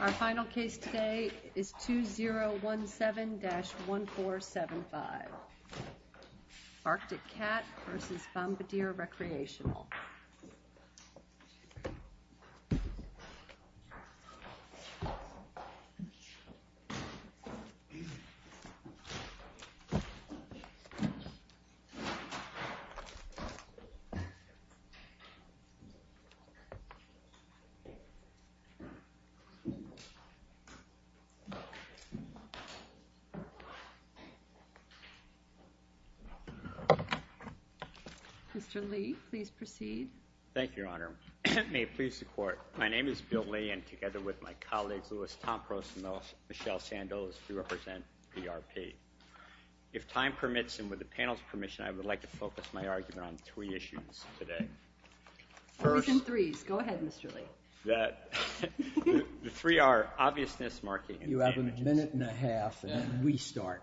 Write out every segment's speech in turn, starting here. Our final case today is 2017-1475 Arctic Cat v. Bombardier Recreational Mr. Lee, please proceed. Thank you, Your Honor. May it please the Court, my name is Bill Lee, and together with my colleagues, Louis Tompros and Michelle Sandoz, we represent PRP. If time permits, and with the panel's permission, I would like to focus my argument on three issues today. Objection threes. Go ahead, Mr. Lee. The three are obviousness, marking, and damages. You have a minute and a half, and then we start.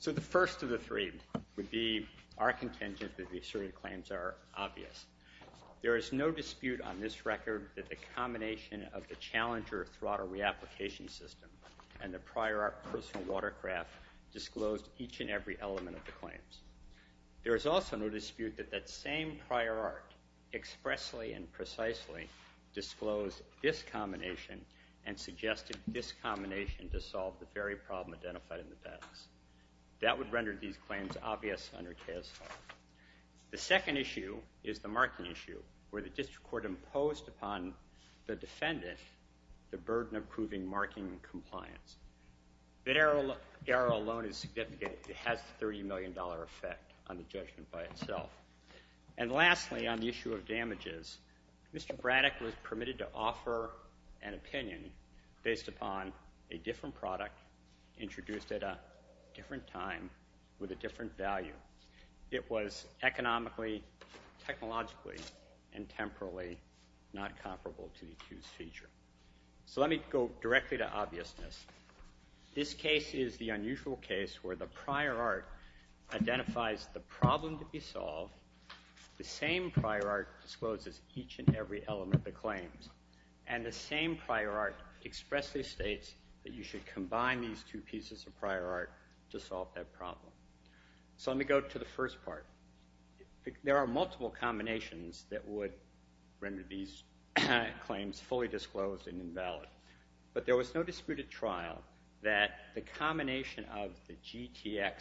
So the first of the three would be our contention that the asserted claims are obvious. There is no dispute on this record that the combination of the challenger throttle reapplication system and the prior personal watercraft disclosed each and every element of the claims. There is also no dispute that that same prior art expressly and precisely disclosed this combination and suggested this combination to solve the very problem identified in the balance. That would render these claims obvious under CAOS 5. The second issue is the marking issue, where the District Court imposed upon the defendant the burden of proving marking compliance. The error alone is significant. It has the $30 million effect on the judgment by itself. And lastly, on the issue of damages, Mr. Braddock was permitted to offer an opinion based upon a different product introduced at a different time with a different value. It was economically, technologically, and temporally not comparable to the accused feature. So let me go directly to obviousness. This case is the unusual case where the prior art identifies the problem to be solved, the same prior art discloses each and every element of the claims, and the same prior art expressly states that you should combine these two pieces of prior art to solve that problem. So let me go to the first part. There are multiple combinations that would render these claims fully disclosed and invalid. But there was no disputed trial that the combination of the GTX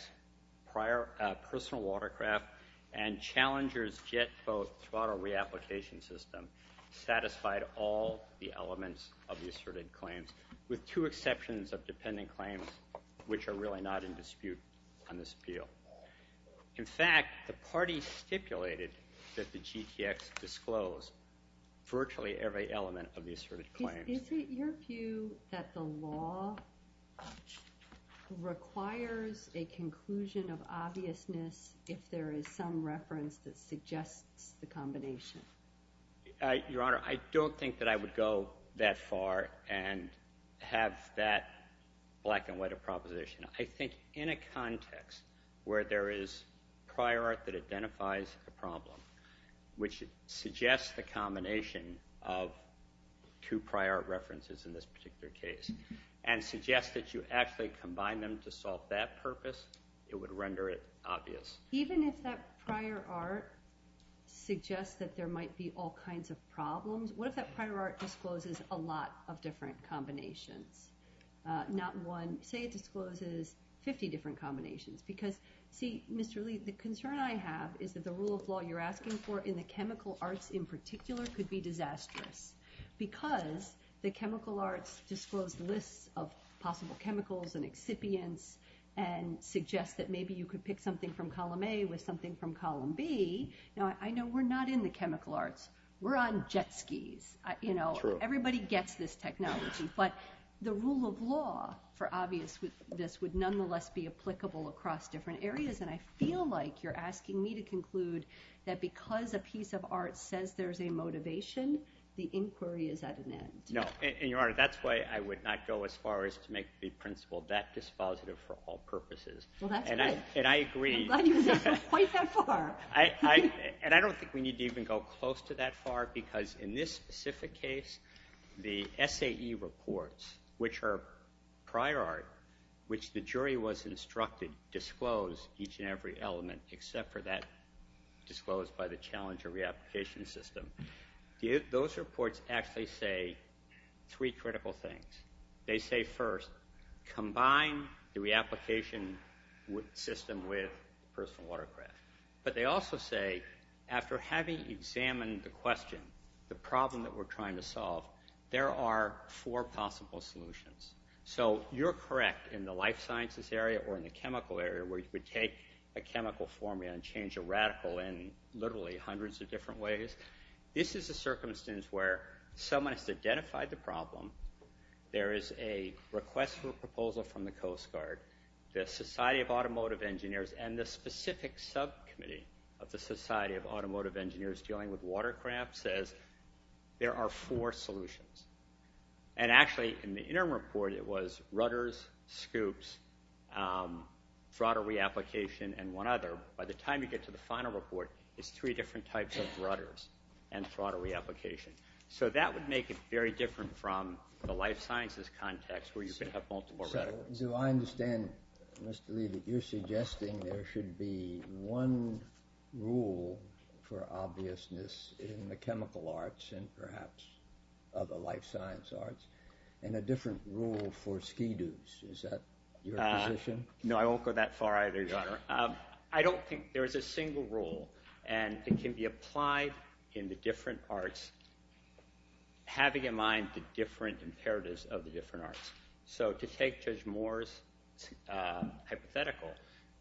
personal watercraft and Challenger's jet boat throttle reapplication system satisfied all the elements of the asserted claims, with two exceptions of dependent claims, which are really not in dispute on this appeal. In fact, the party stipulated that the GTX disclosed virtually every element of the asserted claims. Is it your view that the law requires a conclusion of obviousness if there is some reference that suggests the combination? Your Honor, I don't think that I would go that far and have that black and white a proposition. I think in a context where there is prior art that identifies a problem, which suggests the combination of two prior art references in this particular case, and suggests that you actually combine them to solve that purpose, it would render it obvious. Even if that prior art suggests that there might be all kinds of problems, what if that prior art discloses a lot of different combinations? Not one. Say it discloses 50 different combinations. Because, see, Mr. Lee, the concern I have is that the rule of law you're asking for in the chemical arts in particular could be disastrous. Because the chemical arts disclose lists of possible chemicals and excipients and suggest that maybe you could pick something from column A with something from column B. Now, I know we're not in the chemical arts. We're on jet skis. Everybody gets this technology. But the rule of law for obviousness would nonetheless be applicable across different areas. And I feel like you're asking me to conclude that because a piece of art says there's a motivation, the inquiry is at an end. No. And, Your Honor, that's why I would not go as far as to make the principle that dispositive for all purposes. Well, that's good. And I agree. I'm glad you were able to point that far. And I don't think we need to even go close to that far. Because in this specific case, the SAE reports, which are prior art, which the jury was instructed disclose each and every element except for that disclosed by the challenger reapplication system. Those reports actually say three critical things. They say, first, combine the reapplication system with personal watercraft. But they also say, after having examined the question, the problem that we're trying to solve, there are four possible solutions. So you're correct in the life sciences area or in the chemical area where you could take a chemical formula and change a radical in literally hundreds of different ways. This is a circumstance where someone has to identify the problem. There is a request for a proposal from the Coast Guard, the Society of Automotive Engineers, and the specific subcommittee of the Society of Automotive Engineers dealing with watercraft says there are four solutions. And actually, in the interim report, it was rudders, scoops, throttle reapplication, and one other. By the time you get to the final report, it's three different types of rudders and throttle reapplication. So that would make it very different from the life sciences context where you could have multiple radicals. So I understand, Mr. Lee, that you're suggesting there should be one rule for obviousness in the chemical arts and perhaps other life science arts and a different rule for SCEDUs. Is that your position? No, I won't go that far either, Your Honor. I don't think there is a single rule, and it can be applied in the different arts, having in mind the different imperatives of the different arts. So to take Judge Moore's hypothetical,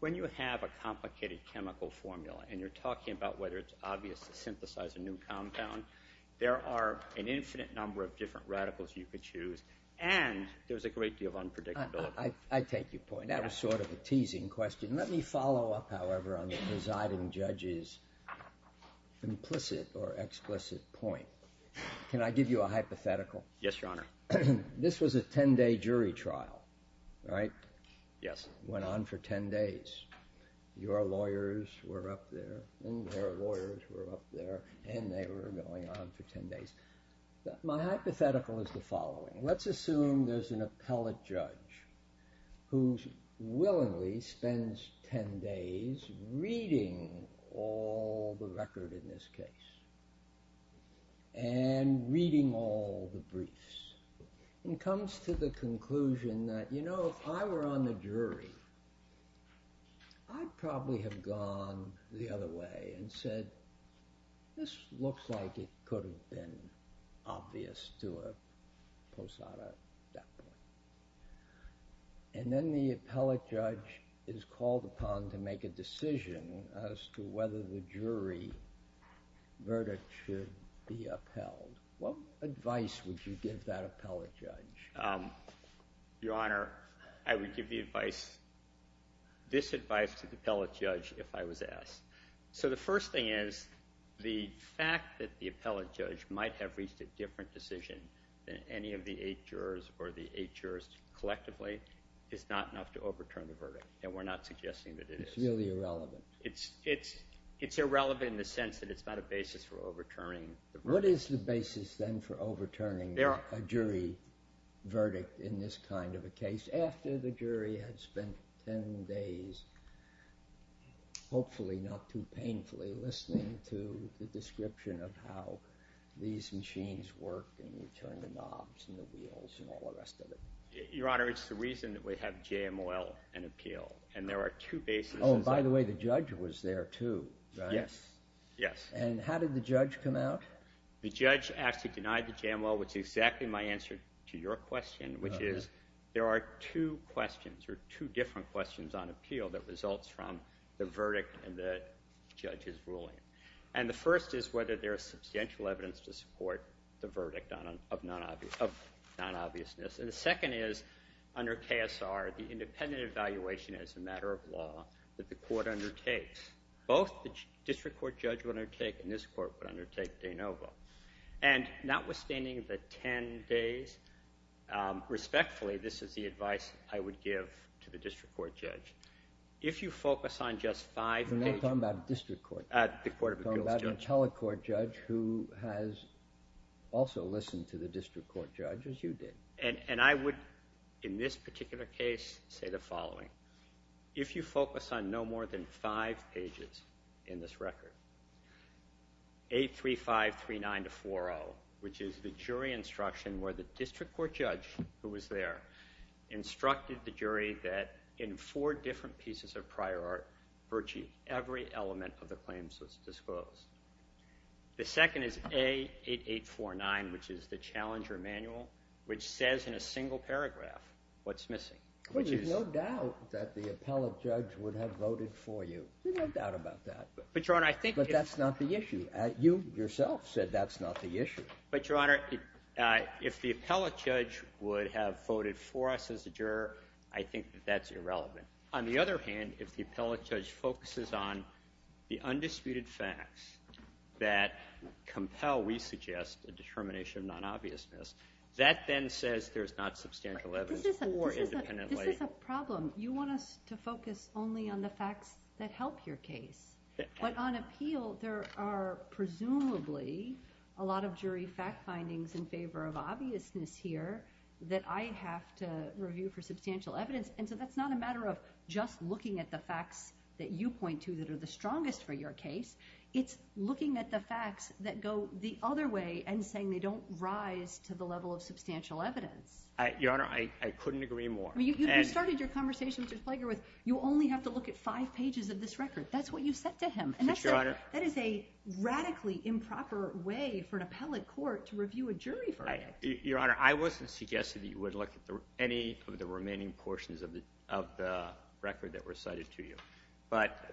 when you have a complicated chemical formula and you're talking about whether it's obvious to synthesize a new compound, there are an infinite number of different radicals you could choose, and there's a great deal of unpredictability. I take your point. That was sort of a teasing question. Let me follow up, however, on the presiding judge's implicit or explicit point. Yes, Your Honor. This was a 10-day jury trial, right? Yes. It went on for 10 days. Your lawyers were up there, and their lawyers were up there, and they were going on for 10 days. My hypothetical is the following. Let's assume there's an appellate judge who willingly spends 10 days reading all the record in this case and reading all the briefs and comes to the conclusion that, you know, if I were on the jury, I'd probably have gone the other way and said, this looks like it could have been obvious to a posada at that point. And then the appellate judge is called upon to make a decision as to whether the jury verdict should be upheld. What advice would you give that appellate judge? Your Honor, I would give this advice to the appellate judge if I was asked. So the first thing is the fact that the appellate judge might have reached a different decision than any of the eight jurors or the eight jurors collectively is not enough to overturn the verdict, and we're not suggesting that it is. It's really irrelevant. It's irrelevant in the sense that it's not a basis for overturning the verdict. What is the basis, then, for overturning a jury verdict in this kind of a case after the jury had spent 10 days, hopefully not too painfully, listening to the description of how these machines work and you turn the knobs and the wheels and all the rest of it? Your Honor, it's the reason that we have JM Oil and Appeal, and there are two bases. Oh, and by the way, the judge was there too, right? Yes, yes. And how did the judge come out? The judge actually denied the JM Oil, which is exactly my answer to your question, which is there are two questions or two different questions on appeal that results from the verdict and the judge's ruling. And the first is whether there is substantial evidence to support the verdict of non-obviousness. And the second is, under KSR, the independent evaluation as a matter of law that the court undertakes. Both the district court judge would undertake and this court would undertake de novo. And notwithstanding the 10 days, respectfully, this is the advice I would give to the district court judge. If you focus on just five pages. We're not talking about a district court judge. The court of appeals judge. We're talking about a telecourt judge who has also listened to the district court judge, as you did. And I would, in this particular case, say the following. If you focus on no more than five pages in this record, 83539-40, which is the jury instruction where the district court judge, who was there, instructed the jury that in four different pieces of prior art, virtually every element of the claims was disclosed. The second is A8849, which is the challenger manual, which says in a single paragraph what's missing. Well, there's no doubt that the appellate judge would have voted for you. There's no doubt about that. But, Your Honor, I think. But that's not the issue. You yourself said that's not the issue. But, Your Honor, if the appellate judge would have voted for us as a juror, I think that that's irrelevant. On the other hand, if the appellate judge focuses on the undisputed facts that compel, we suggest, a determination of non-obviousness, that then says there's not substantial evidence for independent lay. This is a problem. You want us to focus only on the facts that help your case. But on appeal, there are presumably a lot of jury fact findings in favor of obviousness here that I have to review for substantial evidence. And so that's not a matter of just looking at the facts that you point to that are the strongest for your case. It's looking at the facts that go the other way and saying they don't rise to the level of substantial evidence. Your Honor, I couldn't agree more. You started your conversation, Mr. Splager, with you only have to look at five pages of this record. That's what you said to him. But, Your Honor. And that is a radically improper way for an appellate court to review a jury verdict. Your Honor, I wasn't suggesting that you would look at any of the remaining portions of the record that were cited to you. But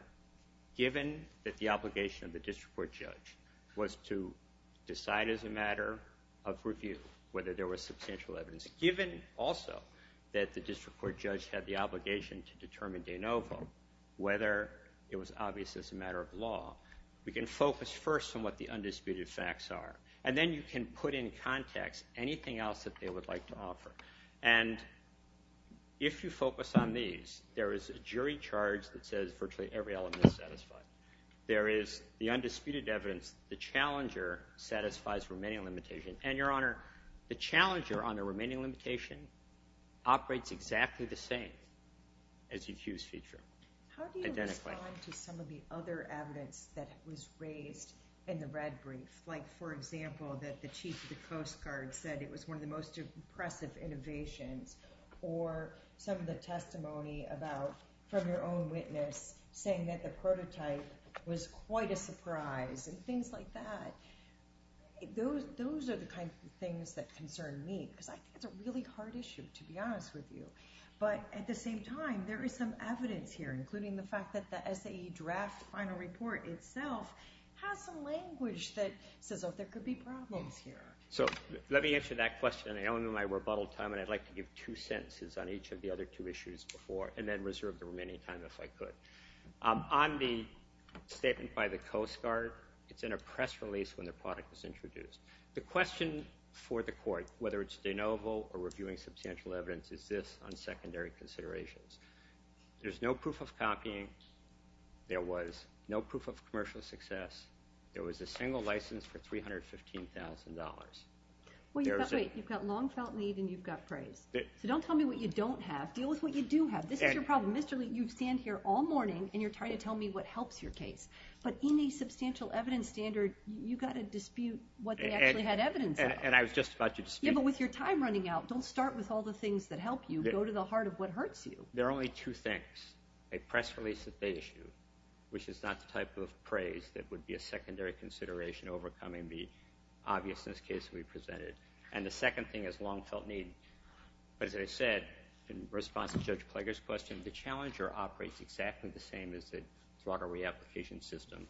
given that the obligation of the district court judge was to decide as a matter of review whether there was substantial evidence, given also that the district court judge had the obligation to determine de novo whether it was obvious as a matter of law, we can focus first on what the undisputed facts are. And then you can put in context anything else that they would like to offer. And if you focus on these, there is a jury charge that says virtually every element is satisfied. There is the undisputed evidence. The challenger satisfies remaining limitation. And, Your Honor, the challenger on the remaining limitation operates exactly the same as the accused feature. How do you respond to some of the other evidence that was raised in the red brief? Like, for example, that the chief of the Coast Guard said it was one of the most impressive innovations. Or some of the testimony about from your own witness saying that the prototype was quite a surprise and things like that. Those are the kinds of things that concern me because I think it's a really hard issue, to be honest with you. But at the same time, there is some evidence here, including the fact that the SAE draft final report itself has some language that says, oh, there could be problems here. So let me answer that question. I owe you my rebuttal time, and I'd like to give two sentences on each of the other two issues before, and then reserve the remaining time if I could. On the statement by the Coast Guard, it's in a press release when the product was introduced. The question for the court, whether it's de novo or reviewing substantial evidence, is this on secondary considerations. There's no proof of copying. There was no proof of commercial success. There was a single license for $315,000. Wait, you've got long felt lead, and you've got praise. So don't tell me what you don't have. Deal with what you do have. This is your problem. Mr. Lee, you stand here all morning, and you're trying to tell me what helps your case. But in a substantial evidence standard, you've got to dispute what they actually had evidence of. And I was just about to dispute it. Yeah, but with your time running out, don't start with all the things that help you. Go to the heart of what hurts you. There are only two things. A press release that they issued, which is not the type of praise that would be a secondary consideration overcoming the obviousness case we presented. And the second thing is long felt need. But as I said, in response to Judge Plager's question, the challenger operates exactly the same as the fraud or reapplication system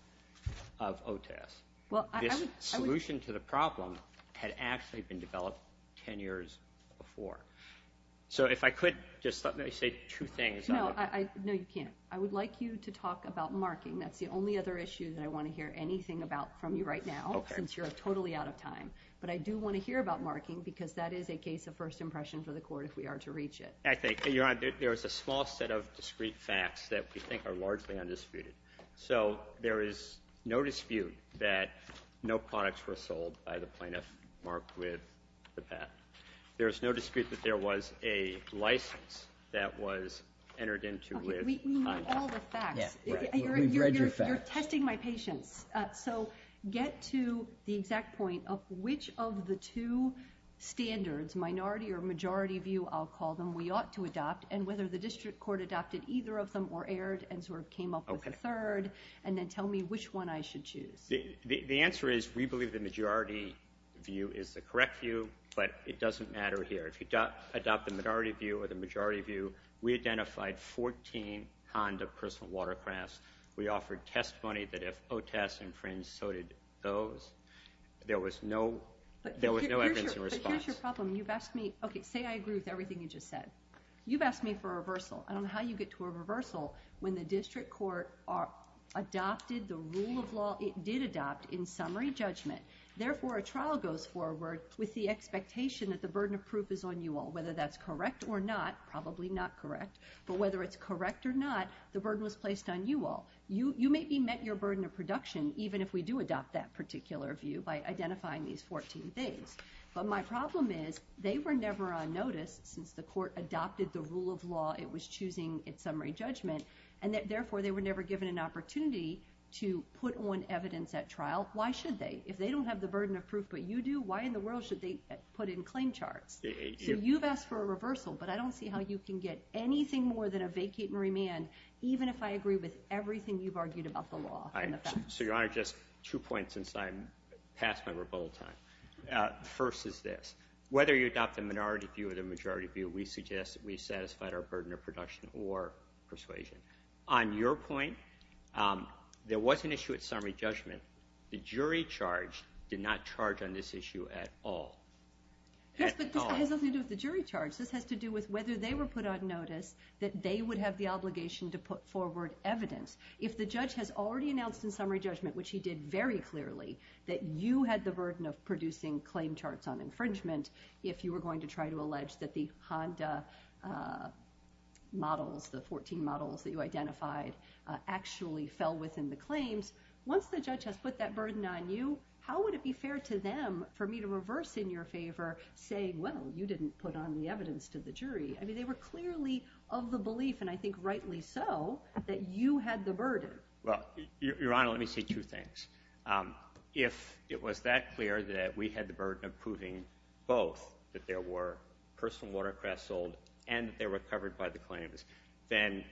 of OTAS. This solution to the problem had actually been developed 10 years before. So if I could just say two things. No, you can't. I would like you to talk about marking. That's the only other issue that I want to hear anything about from you right now since you're totally out of time. But I do want to hear about marking because that is a case of first impression for the court if we are to reach it. I think, Your Honor, there is a small set of discreet facts that we think are largely undisputed. So there is no dispute that no products were sold by the plaintiff marked with the path. There is no dispute that there was a license that was entered into with conduct. We know all the facts. We've read your facts. You're testing my patience. So get to the exact point of which of the two standards, minority or majority view, I'll call them, we ought to adopt, and whether the district court adopted either of them or erred and sort of came up with a third, and then tell me which one I should choose. The answer is we believe the majority view is the correct view, but it doesn't matter here. If you adopt the minority view or the majority view, we identified 14 Honda personal watercrafts. We offered testimony that if OTAS infringed, so did those. There was no evidence in response. But here's your problem. You've asked me, okay, say I agree with everything you just said. You've asked me for a reversal. I don't know how you get to a reversal when the district court adopted the rule of law it did adopt in summary judgment. Therefore, a trial goes forward with the expectation that the burden of proof is on you all, whether that's correct or not, probably not correct, but whether it's correct or not, the burden was placed on you all. You may be met your burden of production even if we do adopt that particular view by identifying these 14 things. But my problem is they were never on notice since the court adopted the rule of law it was choosing in summary judgment, and therefore they were never given an opportunity to put on evidence at trial. Why should they? If they don't have the burden of proof but you do, why in the world should they put in claim charts? So you've asked for a reversal, but I don't see how you can get anything more than a vacate and remand, even if I agree with everything you've argued about the law. So, Your Honor, just two points since I'm past my rebuttal time. First is this. Whether you adopt the minority view or the majority view, we suggest that we satisfied our burden of production or persuasion. On your point, there was an issue at summary judgment. The jury charge did not charge on this issue at all. Yes, but this has nothing to do with the jury charge. This has to do with whether they were put on notice that they would have the obligation to put forward evidence. If the judge has already announced in summary judgment, which he did very clearly, that you had the burden of producing claim charts on infringement, if you were going to try to allege that the Honda models, the 14 models that you identified, actually fell within the claims, once the judge has put that burden on you, how would it be fair to them for me to reverse in your favor, saying, well, you didn't put on the evidence to the jury? I mean, they were clearly of the belief, and I think rightly so, that you had the burden. Well, Your Honor, let me say two things. If it was that clear that we had the burden of proving both that there were personal watercrafts sold and that they were covered by the claims, then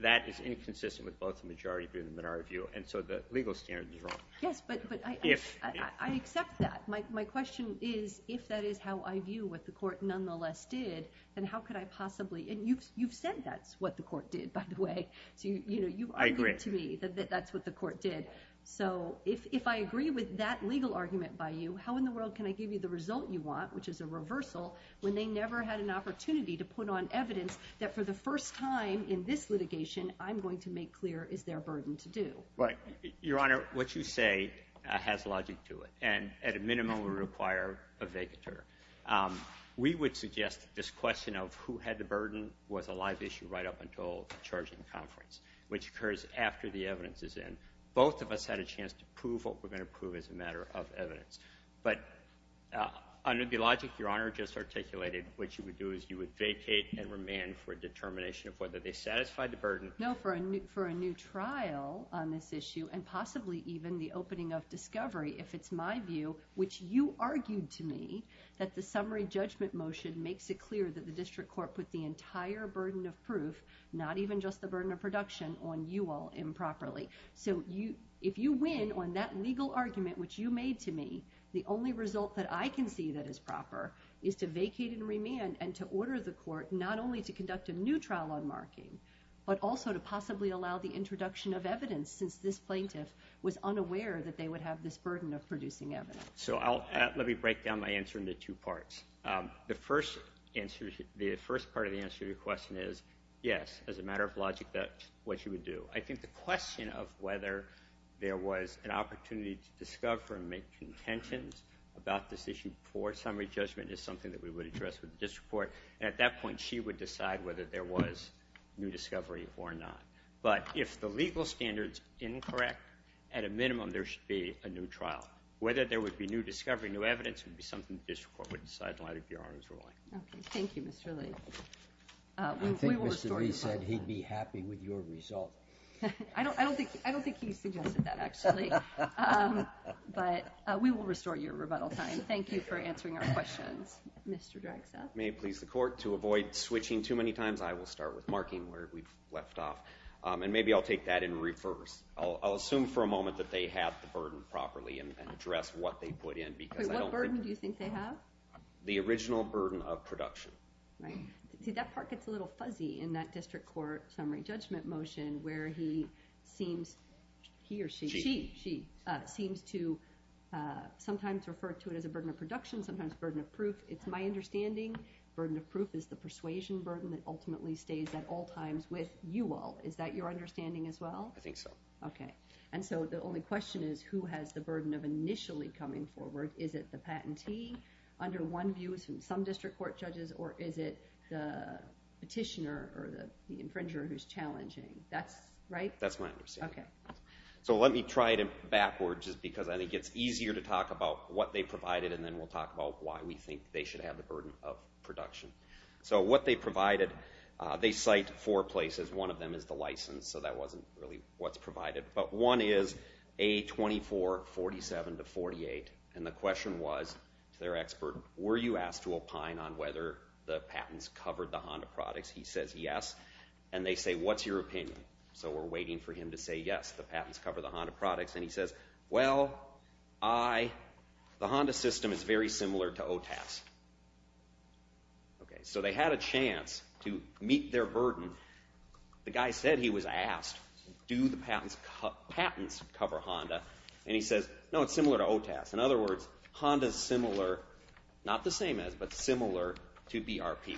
that is inconsistent with both the majority view and the minority view, and so the legal standard is wrong. Yes, but I accept that. My question is, if that is how I view what the court nonetheless did, then how could I possibly – and you've said that's what the court did, by the way. I agree. You argued to me that that's what the court did. So if I agree with that legal argument by you, how in the world can I give you the result you want, which is a reversal, when they never had an opportunity to put on evidence that for the first time in this litigation I'm going to make clear is their burden to do? Your Honor, what you say has logic to it, and at a minimum will require a vacatur. We would suggest this question of who had the burden was a live issue right up until the charging conference, which occurs after the evidence is in. Both of us had a chance to prove what we're going to prove as a matter of evidence. But under the logic Your Honor just articulated, what you would do is you would vacate and remand for a determination of whether they satisfied the burden. No, for a new trial on this issue and possibly even the opening of discovery, if it's my view, which you argued to me that the summary judgment motion makes it clear that the district court put the entire burden of proof, not even just the burden of production, on you all improperly. So if you win on that legal argument which you made to me, the only result that I can see that is proper is to vacate and remand and to order the court not only to conduct a new trial on marking, but also to possibly allow the introduction of evidence since this plaintiff was unaware that they would have this burden of producing evidence. So let me break down my answer into two parts. The first part of the answer to your question is yes, as a matter of logic, that's what you would do. I think the question of whether there was an opportunity to discover and make contentions about this issue before summary judgment is something that we would address with the district court, and at that point she would decide whether there was new discovery or not. But if the legal standard is incorrect, at a minimum there should be a new trial. Whether there would be new discovery, new evidence, would be something the district court would decide in light of Your Honor's ruling. Okay. Thank you, Mr. Lee. I think Mr. Lee said he'd be happy with your result. I don't think he suggested that, actually. But we will restore your rebuttal time. Thank you for answering our questions, Mr. Dragstaff. May it please the court, to avoid switching too many times, I will start with marking where we left off. And maybe I'll take that in reverse. I'll assume for a moment that they have the burden properly and address what they put in. What burden do you think they have? The original burden of production. Right. See, that part gets a little fuzzy in that district court summary judgment motion, where he seems, he or she, she seems to sometimes refer to it as a burden of production, sometimes burden of proof. It's my understanding burden of proof is the persuasion burden that ultimately stays at all times with you all. Is that your understanding as well? I think so. Okay. And so the only question is, who has the burden of initially coming forward? Is it the patentee, under one view, some district court judges, or is it the petitioner or the infringer who's challenging? That's right? That's my understanding. Okay. So let me try it backwards, just because I think it's easier to talk about what they provided, and then we'll talk about why we think they should have the burden of production. So what they provided, they cite four places. One of them is the license, so that wasn't really what's provided. But one is A2447-48, and the question was to their expert, were you asked to opine on whether the patents covered the Honda products? He says yes. And they say, what's your opinion? So we're waiting for him to say yes, the patents cover the Honda products. And he says, well, I, the Honda system is very similar to OTAS. Okay. So they had a chance to meet their burden. The guy said he was asked, do the patents cover Honda? And he says, no, it's similar to OTAS. In other words, Honda's similar, not the same as, but similar to BRP.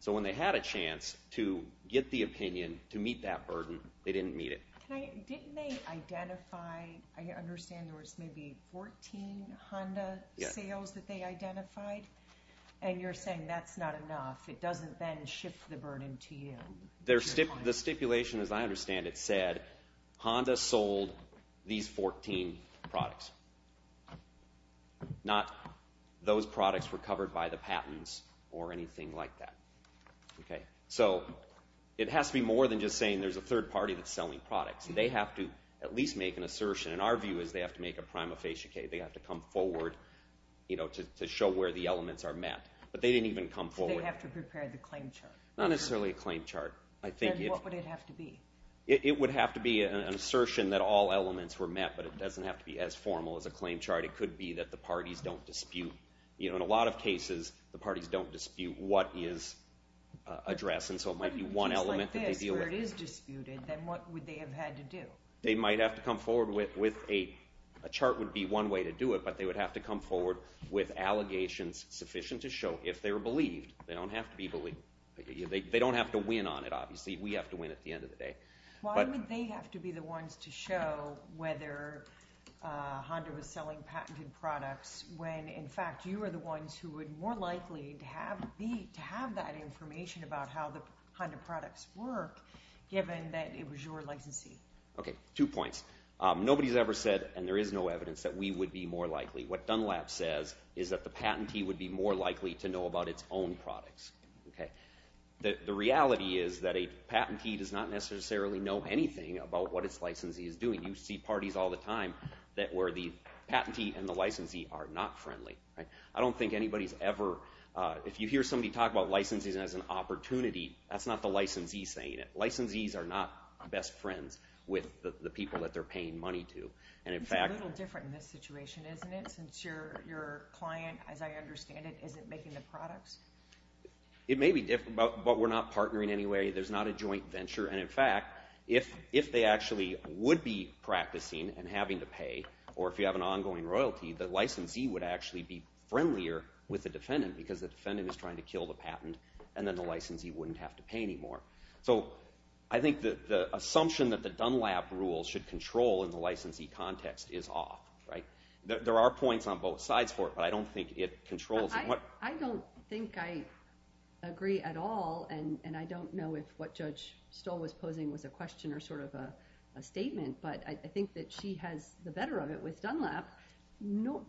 So when they had a chance to get the opinion to meet that burden, they didn't meet it. Didn't they identify, I understand there was maybe 14 Honda sales that they identified? And you're saying that's not enough. It doesn't then shift the burden to you. The stipulation, as I understand it, said Honda sold these 14 products. Not those products were covered by the patents or anything like that. So it has to be more than just saying there's a third party that's selling products. They have to at least make an assertion. And our view is they have to make a prima facie case. They have to come forward to show where the elements are met. But they didn't even come forward. So they have to prepare the claim chart. Not necessarily a claim chart. Then what would it have to be? It would have to be an assertion that all elements were met, but it doesn't have to be as formal as a claim chart. It could be that the parties don't dispute. In a lot of cases, the parties don't dispute what is addressed, and so it might be one element that they deal with. Just like this, where it is disputed, then what would they have had to do? They might have to come forward with a, a chart would be one way to do it, but they would have to come forward with allegations sufficient to show if they were believed. They don't have to be believed. They don't have to win on it, obviously. We have to win at the end of the day. Why would they have to be the ones to show whether Honda was selling patented products when, in fact, you are the ones who would more likely to have that information about how the Honda products work, given that it was your licensee? Okay, two points. Nobody has ever said, and there is no evidence, that we would be more likely. What Dunlap says is that the patentee would be more likely to know about its own products. The reality is that a patentee does not necessarily know anything about what its licensee is doing. You see parties all the time where the patentee and the licensee are not friendly. I don't think anybody's ever, if you hear somebody talk about licensees as an opportunity, that's not the licensee saying it. It's a little different in this situation, isn't it? Since your client, as I understand it, isn't making the products? It may be different, but we're not partnering anyway. There's not a joint venture. In fact, if they actually would be practicing and having to pay, or if you have an ongoing royalty, the licensee would actually be friendlier with the defendant because the defendant is trying to kill the patent, and then the licensee wouldn't have to pay anymore. So I think the assumption that the Dunlap rule should control in the licensee context is off. There are points on both sides for it, but I don't think it controls it. I don't think I agree at all, and I don't know if what Judge Stoll was posing was a question or sort of a statement, but I think that she has the better of it with Dunlap.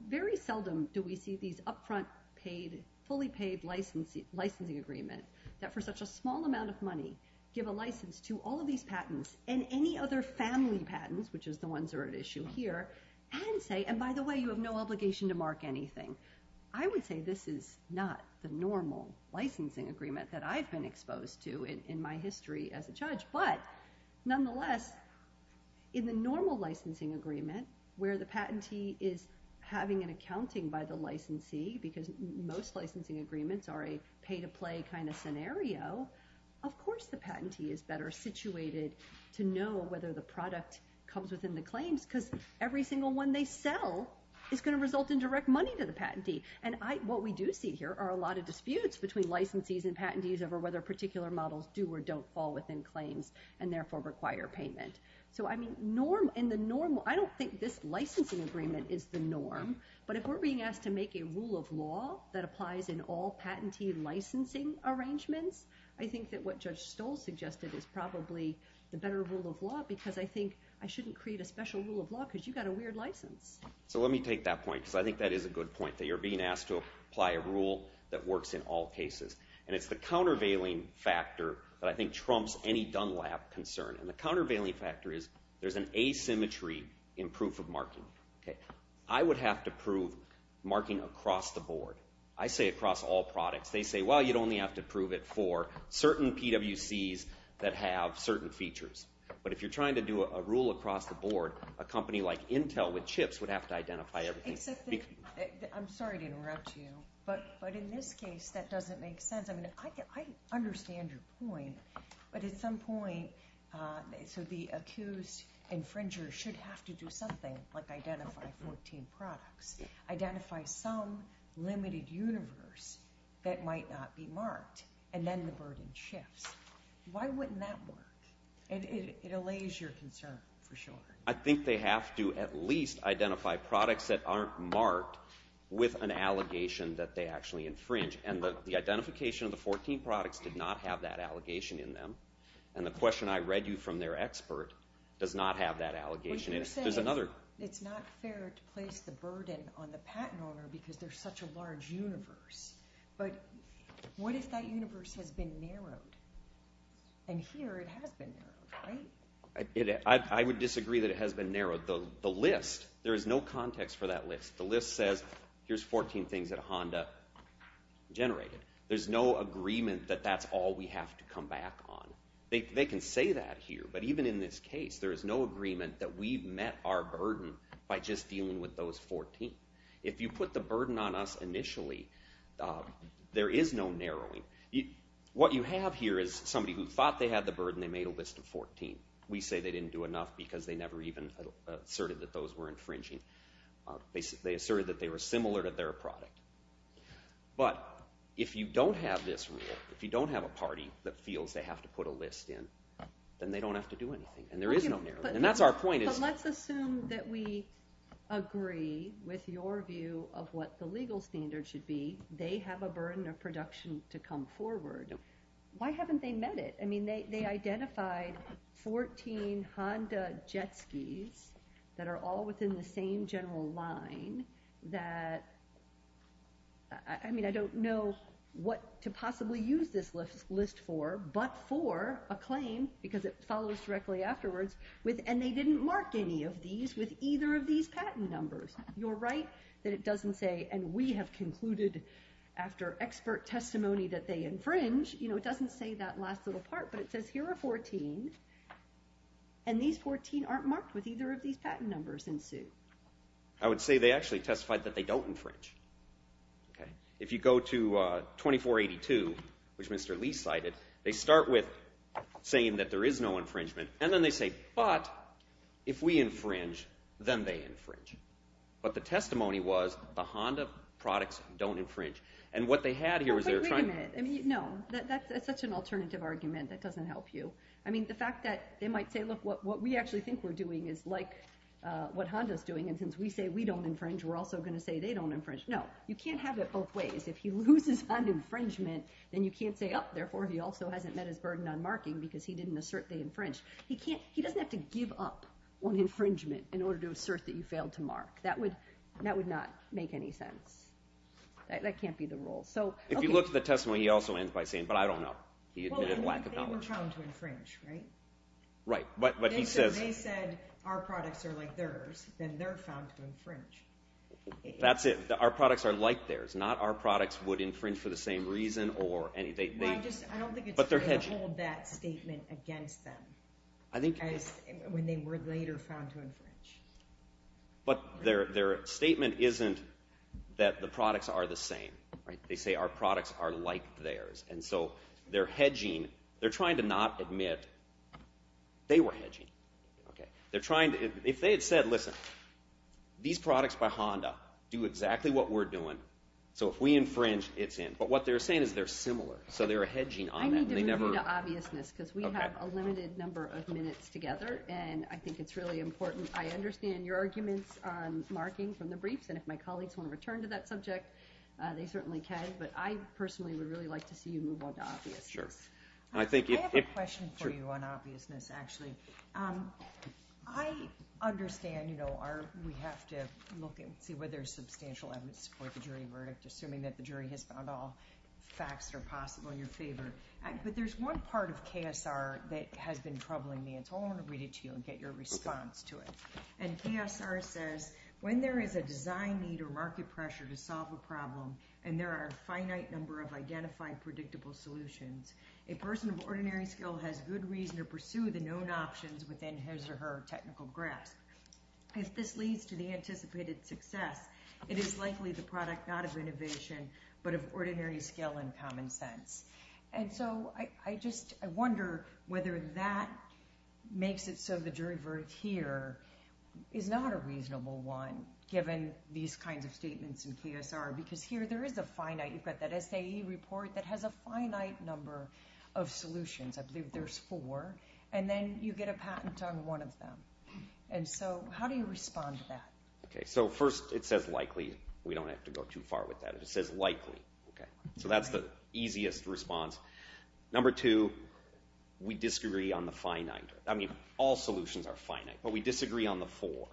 Very seldom do we see these upfront paid, fully paid licensing agreements that for such a small amount of money give a license to all of these patents and any other family patents, which is the ones that are at issue here, and say, and by the way, you have no obligation to mark anything. I would say this is not the normal licensing agreement that I've been exposed to in my history as a judge, but nonetheless, in the normal licensing agreement where the patentee is having an accounting by the licensee, because most licensing agreements are a pay-to-play kind of scenario, of course the patentee is better situated to know whether the product comes within the claims, because every single one they sell is going to result in direct money to the patentee. And what we do see here are a lot of disputes between licensees and patentees over whether particular models do or don't fall within claims and therefore require payment. So I mean, I don't think this licensing agreement is the norm, but if we're being asked to make a rule of law that applies in all patentee licensing arrangements, I think that what Judge Stoll suggested is probably the better rule of law, because I think I shouldn't create a special rule of law because you've got a weird license. So let me take that point, because I think that is a good point, that you're being asked to apply a rule that works in all cases. And it's the countervailing factor that I think trumps any Dunlap concern. And the countervailing factor is there's an asymmetry in proof of marking. I would have to prove marking across the board. I say across all products. They say, well, you'd only have to prove it for certain PWCs that have certain features. But if you're trying to do a rule across the board, a company like Intel with chips would have to identify everything. I'm sorry to interrupt you, but in this case that doesn't make sense. I understand your point, but at some point, so the accused infringer should have to do something, like identify 14 products, identify some limited universe that might not be marked, and then the burden shifts. Why wouldn't that work? It allays your concern, for sure. I think they have to at least identify products that aren't marked with an allegation that they actually infringe. And the identification of the 14 products did not have that allegation in them. And the question I read you from their expert does not have that allegation. But you're saying it's not fair to place the burden on the patent owner because there's such a large universe. But what if that universe has been narrowed? And here it has been narrowed, right? I would disagree that it has been narrowed. The list, there is no context for that list. The list says, here's 14 things that Honda generated. There's no agreement that that's all we have to come back on. They can say that here, but even in this case, there is no agreement that we've met our burden by just dealing with those 14. If you put the burden on us initially, there is no narrowing. What you have here is somebody who thought they had the burden. They made a list of 14. We say they didn't do enough because they never even asserted that those were infringing. They asserted that they were similar to their product. But if you don't have this rule, if you don't have a party that feels they have to put a list in, then they don't have to do anything. And there is no narrowing. And that's our point. But let's assume that we agree with your view of what the legal standard should be. They have a burden of production to come forward. Why haven't they met it? I mean, they identified 14 Honda jet skis that are all within the same general line that, I mean, I don't know what to possibly use this list for, but for a claim, because it follows directly afterwards, and they didn't mark any of these with either of these patent numbers. You're right that it doesn't say, and we have concluded after expert testimony that they infringe, you know, it doesn't say that last little part, but it says here are 14, and these 14 aren't marked with either of these patent numbers in suit. I would say they actually testified that they don't infringe. If you go to 2482, which Mr. Lee cited, they start with saying that there is no infringement, and then they say, but if we infringe, then they infringe. But the testimony was the Honda products don't infringe. And what they had here was they were trying to Wait a minute. No, that's such an alternative argument. That doesn't help you. I mean, the fact that they might say, look, what we actually think we're doing is like what Honda's doing, and since we say we don't infringe, we're also going to say they don't infringe. No, you can't have it both ways. If he loses on infringement, then you can't say, oh, therefore he also hasn't met his burden on marking because he didn't assert they infringed. He doesn't have to give up on infringement in order to assert that you failed to mark. That would not make any sense. That can't be the rule. If you look at the testimony, he also ends by saying, but I don't know. He admitted a lack of knowledge. They were trying to infringe, right? They said our products are like theirs. Then they're found to infringe. That's it. Our products are like theirs. Not our products would infringe for the same reason. I don't think it's fair to hold that statement against them when they were later found to infringe. But their statement isn't that the products are the same. They say our products are like theirs. They're hedging. They're trying to not admit they were hedging. If they had said, listen, these products by Honda do exactly what we're doing, so if we infringe, it's in. But what they're saying is they're similar, so they're hedging on that. I need to move you to obviousness because we have a limited number of minutes together, and I think it's really important. I understand your arguments on marking from the briefs, and if my colleagues want to return to that subject, they certainly can. But I personally would really like to see you move on to obviousness. I have a question for you on obviousness, actually. I understand we have to look and see whether there's substantial evidence to support the jury verdict, assuming that the jury has found all facts that are possible in your favor. But there's one part of KSR that has been troubling me, and so I want to read it to you and get your response to it. KSR says, when there is a design need or market pressure to solve a problem and there are a finite number of identified predictable solutions, a person of ordinary skill has good reason to pursue the known options within his or her technical grasp. If this leads to the anticipated success, it is likely the product not of innovation but of ordinary skill and common sense. And so I just wonder whether that makes it so the jury verdict here is not a reasonable one, given these kinds of statements in KSR, because here there is a finite. You've got that SAE report that has a finite number of solutions. I believe there's four. And then you get a patent on one of them. And so how do you respond to that? First, it says likely. We don't have to go too far with that. It says likely. So that's the easiest response. Number two, we disagree on the finite. I mean, all solutions are finite, but we disagree on the four.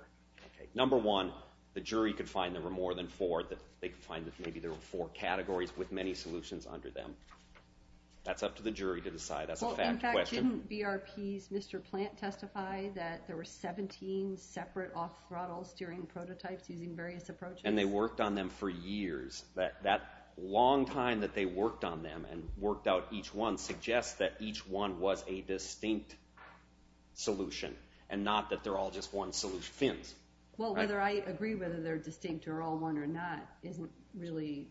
Number one, the jury could find there were more than four or that they could find that maybe there were four categories with many solutions under them. That's up to the jury to decide. That's a fact question. Well, in fact, didn't BRP's Mr. Plant testify that there were 17 separate off-throttle steering prototypes using various approaches? And they worked on them for years. That long time that they worked on them and worked out each one suggests that each one was a distinct solution and not that they're all just one-solution fins. Well, whether I agree whether they're distinct or all one or not isn't really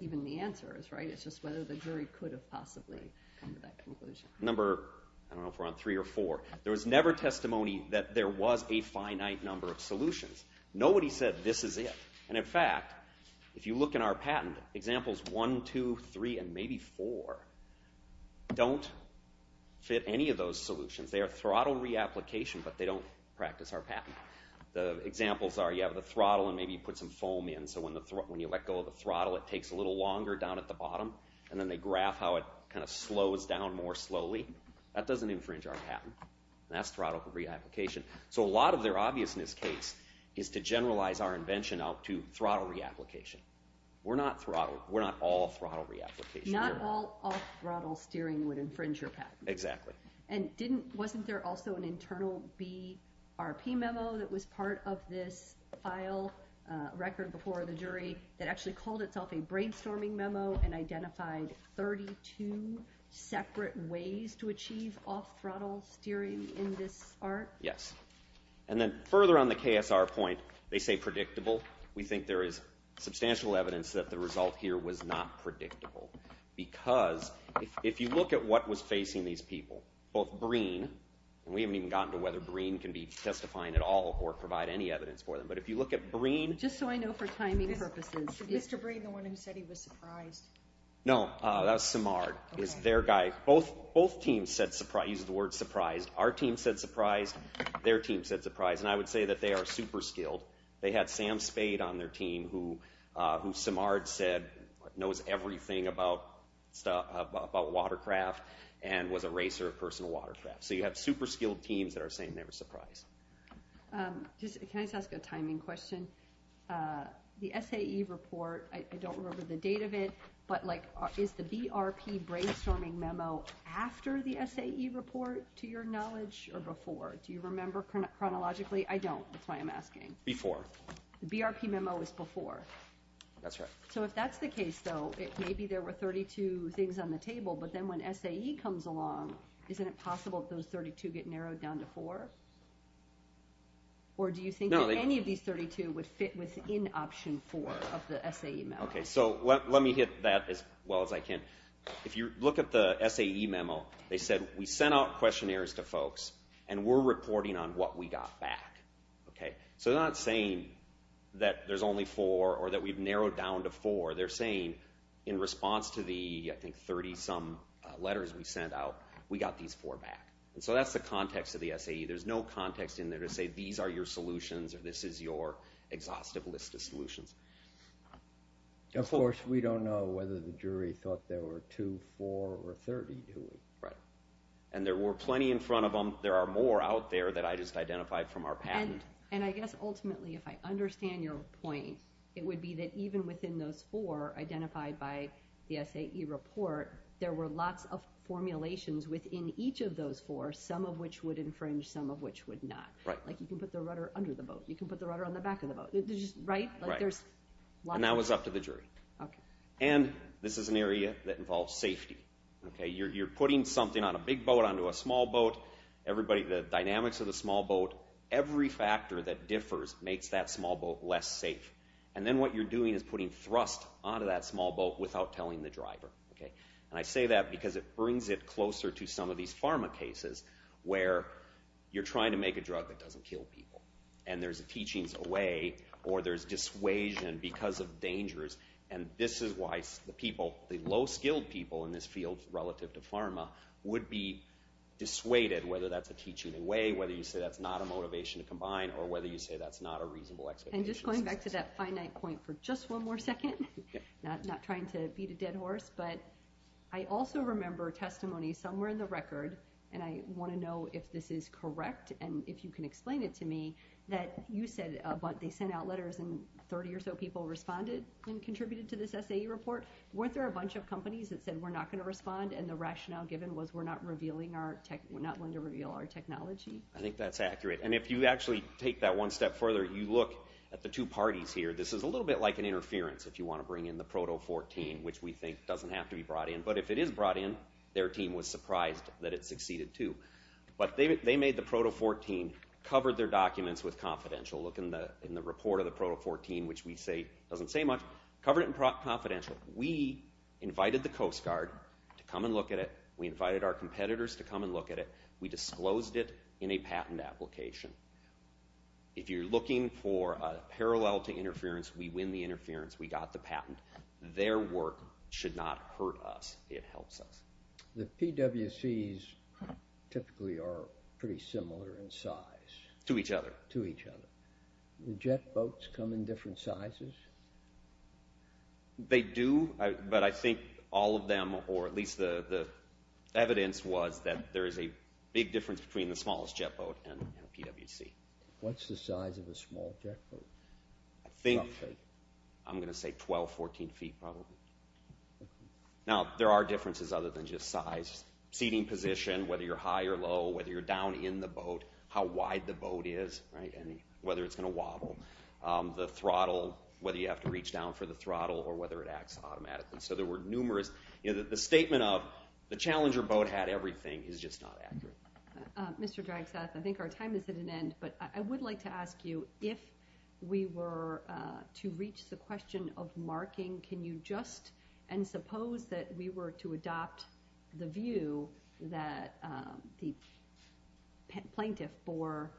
even the answer, right? It's just whether the jury could have possibly come to that conclusion. Number, I don't know if we're on three or four, there was never testimony that there was a finite number of solutions. Nobody said this is it. And, in fact, if you look in our patent, examples one, two, three, and maybe four don't fit any of those solutions. They are throttle reapplication, but they don't practice our patent. The examples are you have the throttle and maybe you put some foam in so when you let go of the throttle it takes a little longer down at the bottom and then they graph how it kind of slows down more slowly. That doesn't infringe our patent. And that's throttle reapplication. So a lot of their obviousness case is to generalize our invention out to throttle reapplication. We're not all throttle reapplication. Not all off-throttle steering would infringe your patent. Exactly. And wasn't there also an internal BRP memo that was part of this file record before the jury that actually called itself a brainstorming memo and identified 32 separate ways to achieve off-throttle steering in this art? Yes. And then further on the KSR point, they say predictable. We think there is substantial evidence that the result here was not predictable because if you look at what was facing these people, both Breen, and we haven't even gotten to whether Breen can be testifying at all or provide any evidence for them, but if you look at Breen. Just so I know for timing purposes. Was Mr. Breen the one who said he was surprised? No, that was Simard. Both teams said surprised. He used the word surprised. Our team said surprised. Their team said surprised. And I would say that they are super skilled. They had Sam Spade on their team who Simard said knows everything about watercraft and was a racer of personal watercraft. So you have super skilled teams that are saying they were surprised. Can I just ask a timing question? The SAE report, I don't remember the date of it, but is the BRP brainstorming memo after the SAE report to your knowledge or before? Do you remember chronologically? Actually, I don't. That's why I'm asking. Before. The BRP memo is before. That's right. So if that's the case, though, maybe there were 32 things on the table, but then when SAE comes along, isn't it possible that those 32 get narrowed down to four? Or do you think that any of these 32 would fit within option four of the SAE memo? Okay, so let me hit that as well as I can. If you look at the SAE memo, they said, We sent out questionnaires to folks, and we're reporting on what we got back. So they're not saying that there's only four or that we've narrowed down to four. They're saying in response to the, I think, 30-some letters we sent out, we got these four back. So that's the context of the SAE. There's no context in there to say these are your solutions or this is your exhaustive list of solutions. Of course, we don't know whether the jury thought there were two four or 30, do we? Right. And there were plenty in front of them. There are more out there that I just identified from our patent. And I guess ultimately, if I understand your point, it would be that even within those four identified by the SAE report, there were lots of formulations within each of those four, some of which would infringe, some of which would not. Right. Like you can put the rudder under the boat. You can put the rudder on the back of the boat. Right? Right. And that was up to the jury. Okay. And this is an area that involves safety. You're putting something on a big boat onto a small boat. Everybody, the dynamics of the small boat, every factor that differs makes that small boat less safe. And then what you're doing is putting thrust onto that small boat without telling the driver. And I say that because it brings it closer to some of these pharma cases where you're trying to make a drug that doesn't kill people. And there's a teachings away or there's dissuasion because of dangers. And this is why the people, the low-skilled people in this field relative to pharma, would be dissuaded whether that's a teaching away, whether you say that's not a motivation to combine or whether you say that's not a reasonable expectation. And just going back to that finite point for just one more second, not trying to beat a dead horse, but I also remember testimony somewhere in the record, and I want to know if this is correct and if you can explain it to me, that you said they sent out letters and 30 or so people responded and contributed to this SAE report. Weren't there a bunch of companies that said we're not going to respond and the rationale given was we're not going to reveal our technology? I think that's accurate. And if you actually take that one step further, you look at the two parties here. This is a little bit like an interference if you want to bring in the Proto 14, which we think doesn't have to be brought in. But if it is brought in, their team was surprised that it succeeded too. But they made the Proto 14, covered their documents with confidential. Look in the report of the Proto 14, which we say doesn't say much, covered it in confidential. We invited the Coast Guard to come and look at it. We invited our competitors to come and look at it. We disclosed it in a patent application. If you're looking for a parallel to interference, we win the interference. We got the patent. Their work should not hurt us. It helps us. The PWCs typically are pretty similar in size. To each other. To each other. Do jet boats come in different sizes? They do, but I think all of them, or at least the evidence, was that there is a big difference between the smallest jet boat and a PWC. What's the size of a small jet boat? I think I'm going to say 12, 14 feet probably. Now, there are differences other than just size. Seating position, whether you're high or low, whether you're down in the boat, how wide the boat is, whether it's going to wobble. The throttle, whether you have to reach down for the throttle or whether it acts automatically. So there were numerous. The statement of the challenger boat had everything is just not accurate. Mr. Draxath, I think our time is at an end, but I would like to ask you if we were to reach the question of marking, can you just, and suppose that we were to adopt the view that the plaintiff bore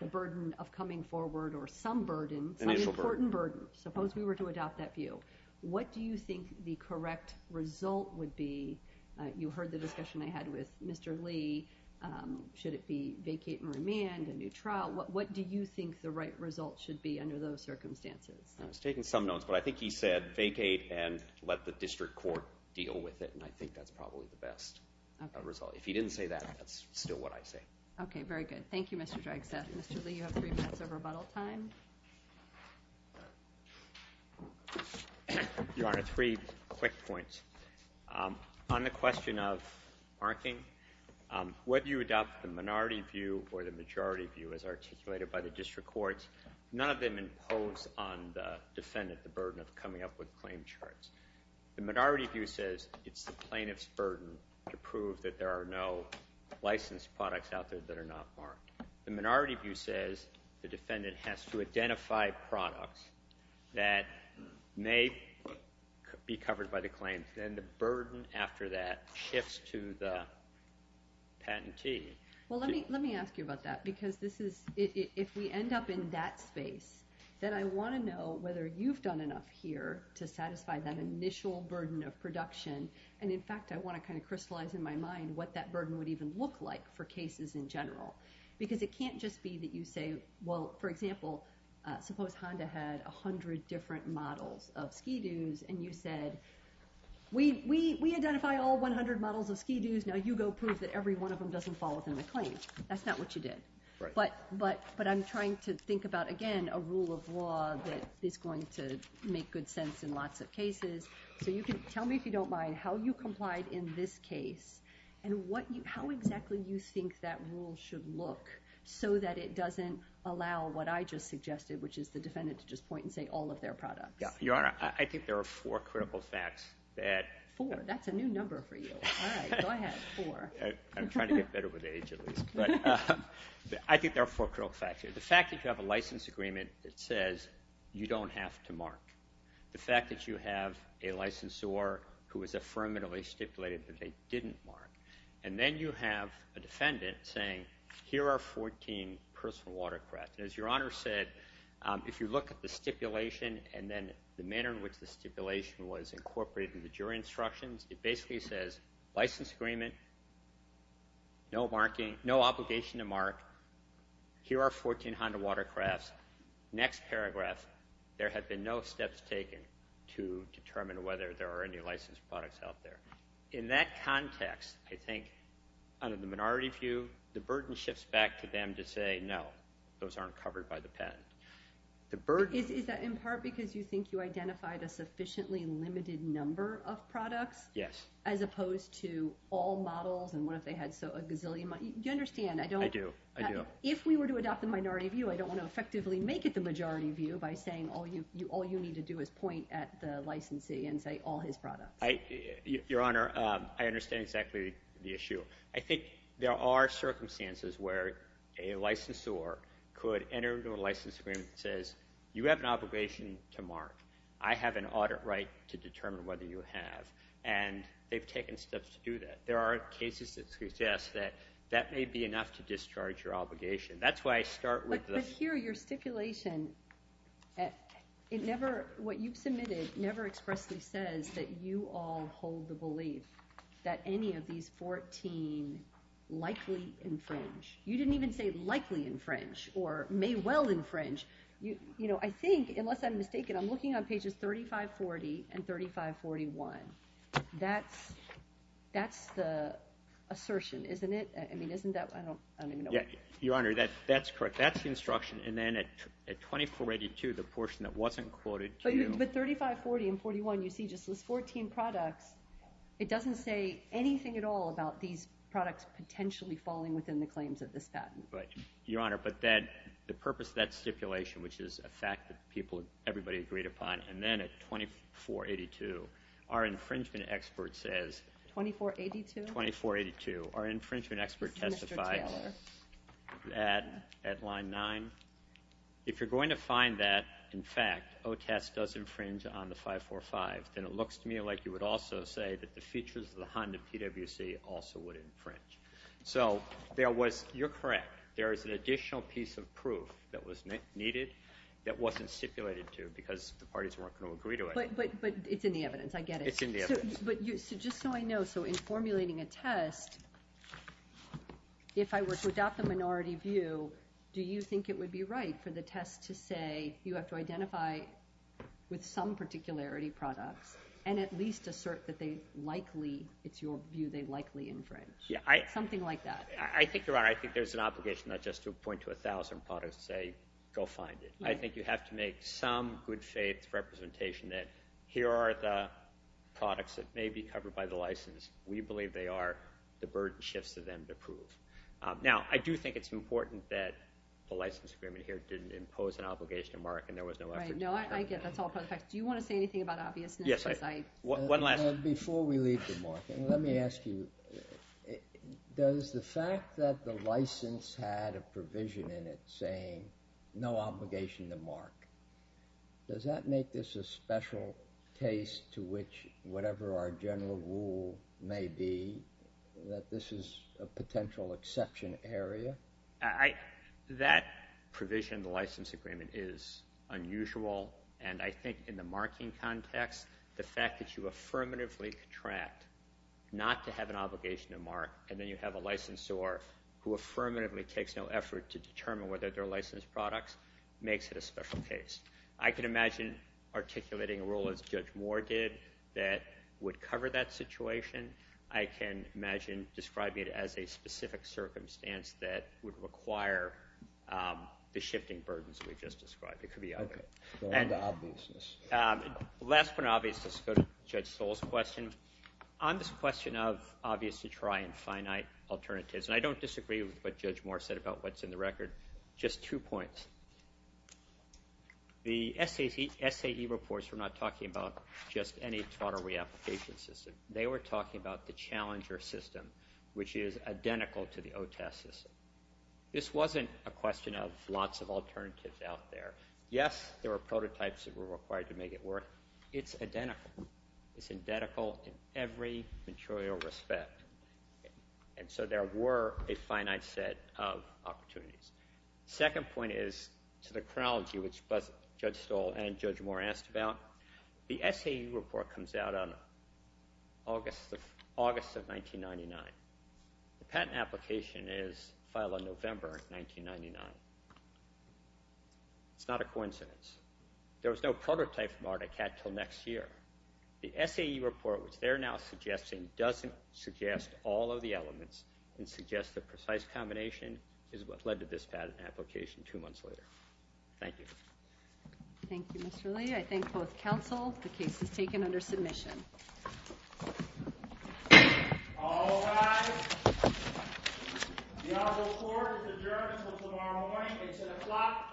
the burden of coming forward or some burden, some important burden. Suppose we were to adopt that view. What do you think the correct result would be? You heard the discussion I had with Mr. Lee. Should it be vacate and remand, a new trial? What do you think the right result should be under those circumstances? I was taking some notes, but I think he said vacate and let the district court deal with it, and I think that's probably the best result. If he didn't say that, that's still what I say. Okay, very good. Thank you, Mr. Draxath. Mr. Lee, you have three minutes of rebuttal time. Your Honor, three quick points. On the question of marking, whether you adopt the minority view or the majority view as articulated by the district courts, none of them impose on the defendant the burden of coming up with claim charts. The minority view says it's the plaintiff's burden to prove that there are no licensed products out there that are not marked. The minority view says the defendant has to identify products that may be covered by the claim. Then the burden after that shifts to the patentee. Well, let me ask you about that, because if we end up in that space, then I want to know whether you've done enough here to satisfy that initial burden of production, and in fact I want to kind of crystallize in my mind what that burden would even look like for cases in general, because it can't just be that you say, well, for example, suppose Honda had 100 different models of Ski-Dos, and you said, we identify all 100 models of Ski-Dos, now you go prove that every one of them doesn't fall within the claim. That's not what you did. But I'm trying to think about, again, a rule of law that is going to make good sense in lots of cases. So tell me, if you don't mind, how you complied in this case and how exactly you think that rule should look so that it doesn't allow what I just suggested, which is the defendant to just point and say all of their products. Your Honor, I think there are four critical facts that— I'm trying to get better with age, at least. But I think there are four critical facts here. The fact that you have a license agreement that says you don't have to mark. The fact that you have a licensor who has affirmatively stipulated that they didn't mark. And then you have a defendant saying, here are 14 personal watercrafts. And as Your Honor said, if you look at the stipulation and then the manner in which the stipulation was incorporated in the jury instructions, it basically says license agreement, no obligation to mark, here are 14 Honda watercrafts. Next paragraph, there have been no steps taken to determine whether there are any licensed products out there. In that context, I think, under the minority view, the burden shifts back to them to say, no, those aren't covered by the patent. Is that in part because you think you identified a sufficiently limited number of products? Yes. As opposed to all models, and what if they had a gazillion models? Do you understand? I do. If we were to adopt the minority view, I don't want to effectively make it the majority view by saying all you need to do is point at the licensee and say all his products. Your Honor, I understand exactly the issue. I think there are circumstances where a licensor could enter into a license agreement that says you have an obligation to mark. I have an audit right to determine whether you have. And they've taken steps to do that. There are cases that suggest that that may be enough to discharge your obligation. That's why I start with the ---- But here, your stipulation, what you've submitted never expressly says that you all hold the belief that any of these 14 likely infringe. You didn't even say likely infringe or may well infringe. I think, unless I'm mistaken, I'm looking on pages 3540 and 3541. That's the assertion, isn't it? I mean, isn't that ---- Your Honor, that's correct. That's the instruction. But 3540 and 4541, you see just those 14 products. It doesn't say anything at all about these products potentially falling within the claims of this patent. Your Honor, but the purpose of that stipulation, which is a fact that everybody agreed upon, and then at 2482, our infringement expert says ---- 2482? 2482. Our infringement expert testified at line 9. If you're going to find that, in fact, OTAS does infringe on the 545, then it looks to me like you would also say that the features of the Honda PwC also would infringe. So there was ---- you're correct. There is an additional piece of proof that was needed that wasn't stipulated to because the parties weren't going to agree to it. But it's in the evidence. I get it. It's in the evidence. But just so I know, so in formulating a test, if I were to adopt the minority view, do you think it would be right for the test to say you have to identify with some particularity products and at least assert that they likely ---- it's your view they likely infringe? Yeah. Something like that. I think you're right. I think there's an obligation not just to point to 1,000 products and say go find it. I think you have to make some good faith representation that here are the products that may be covered by the license. We believe they are. The burden shifts to them to prove. Now, I do think it's important that the license agreement here didn't impose an obligation to mark and there was no ---- Right. No, I get it. That's all part of the fact. Do you want to say anything about obviousness? Yes. One last ---- Before we leave the marking, let me ask you, does the fact that the license had a provision in it saying no obligation to mark, does that make this a special case to which whatever our general rule may be that this is a potential exception area? That provision in the license agreement is unusual and I think in the marking context, the fact that you affirmatively contract not to have an obligation to mark and then you have a licensor who affirmatively takes no effort to determine whether they're licensed products makes it a special case. I can imagine articulating a rule as Judge Moore did that would cover that situation. I can imagine describing it as a specific circumstance that would require the shifting burdens we've just described. It could be other. Okay. Going to obviousness. Last point on obviousness, go to Judge Stoll's question. On this question of obvious to try and finite alternatives, and I don't disagree with what Judge Moore said about what's in the record, just two points. The SAE reports were not talking about just any total reapplication system. They were talking about the challenger system, which is identical to the OTAS system. This wasn't a question of lots of alternatives out there. Yes, there were prototypes that were required to make it work. It's identical. It's identical in every material respect. And so there were a finite set of opportunities. Second point is to the chronology, which Judge Stoll and Judge Moore asked about. The SAE report comes out on August of 1999. The patent application is filed on November 1999. It's not a coincidence. There was no prototype from Ardicat until next year. The SAE report, which they're now suggesting, doesn't suggest all of the elements and suggests the precise combination is what led to this patent application two months later. Thank you. Thank you, Mr. Lee. I thank both counsel. The case is taken under submission. All rise. The honorable court is adjourned until tomorrow morning. It's 10 o'clock a.m.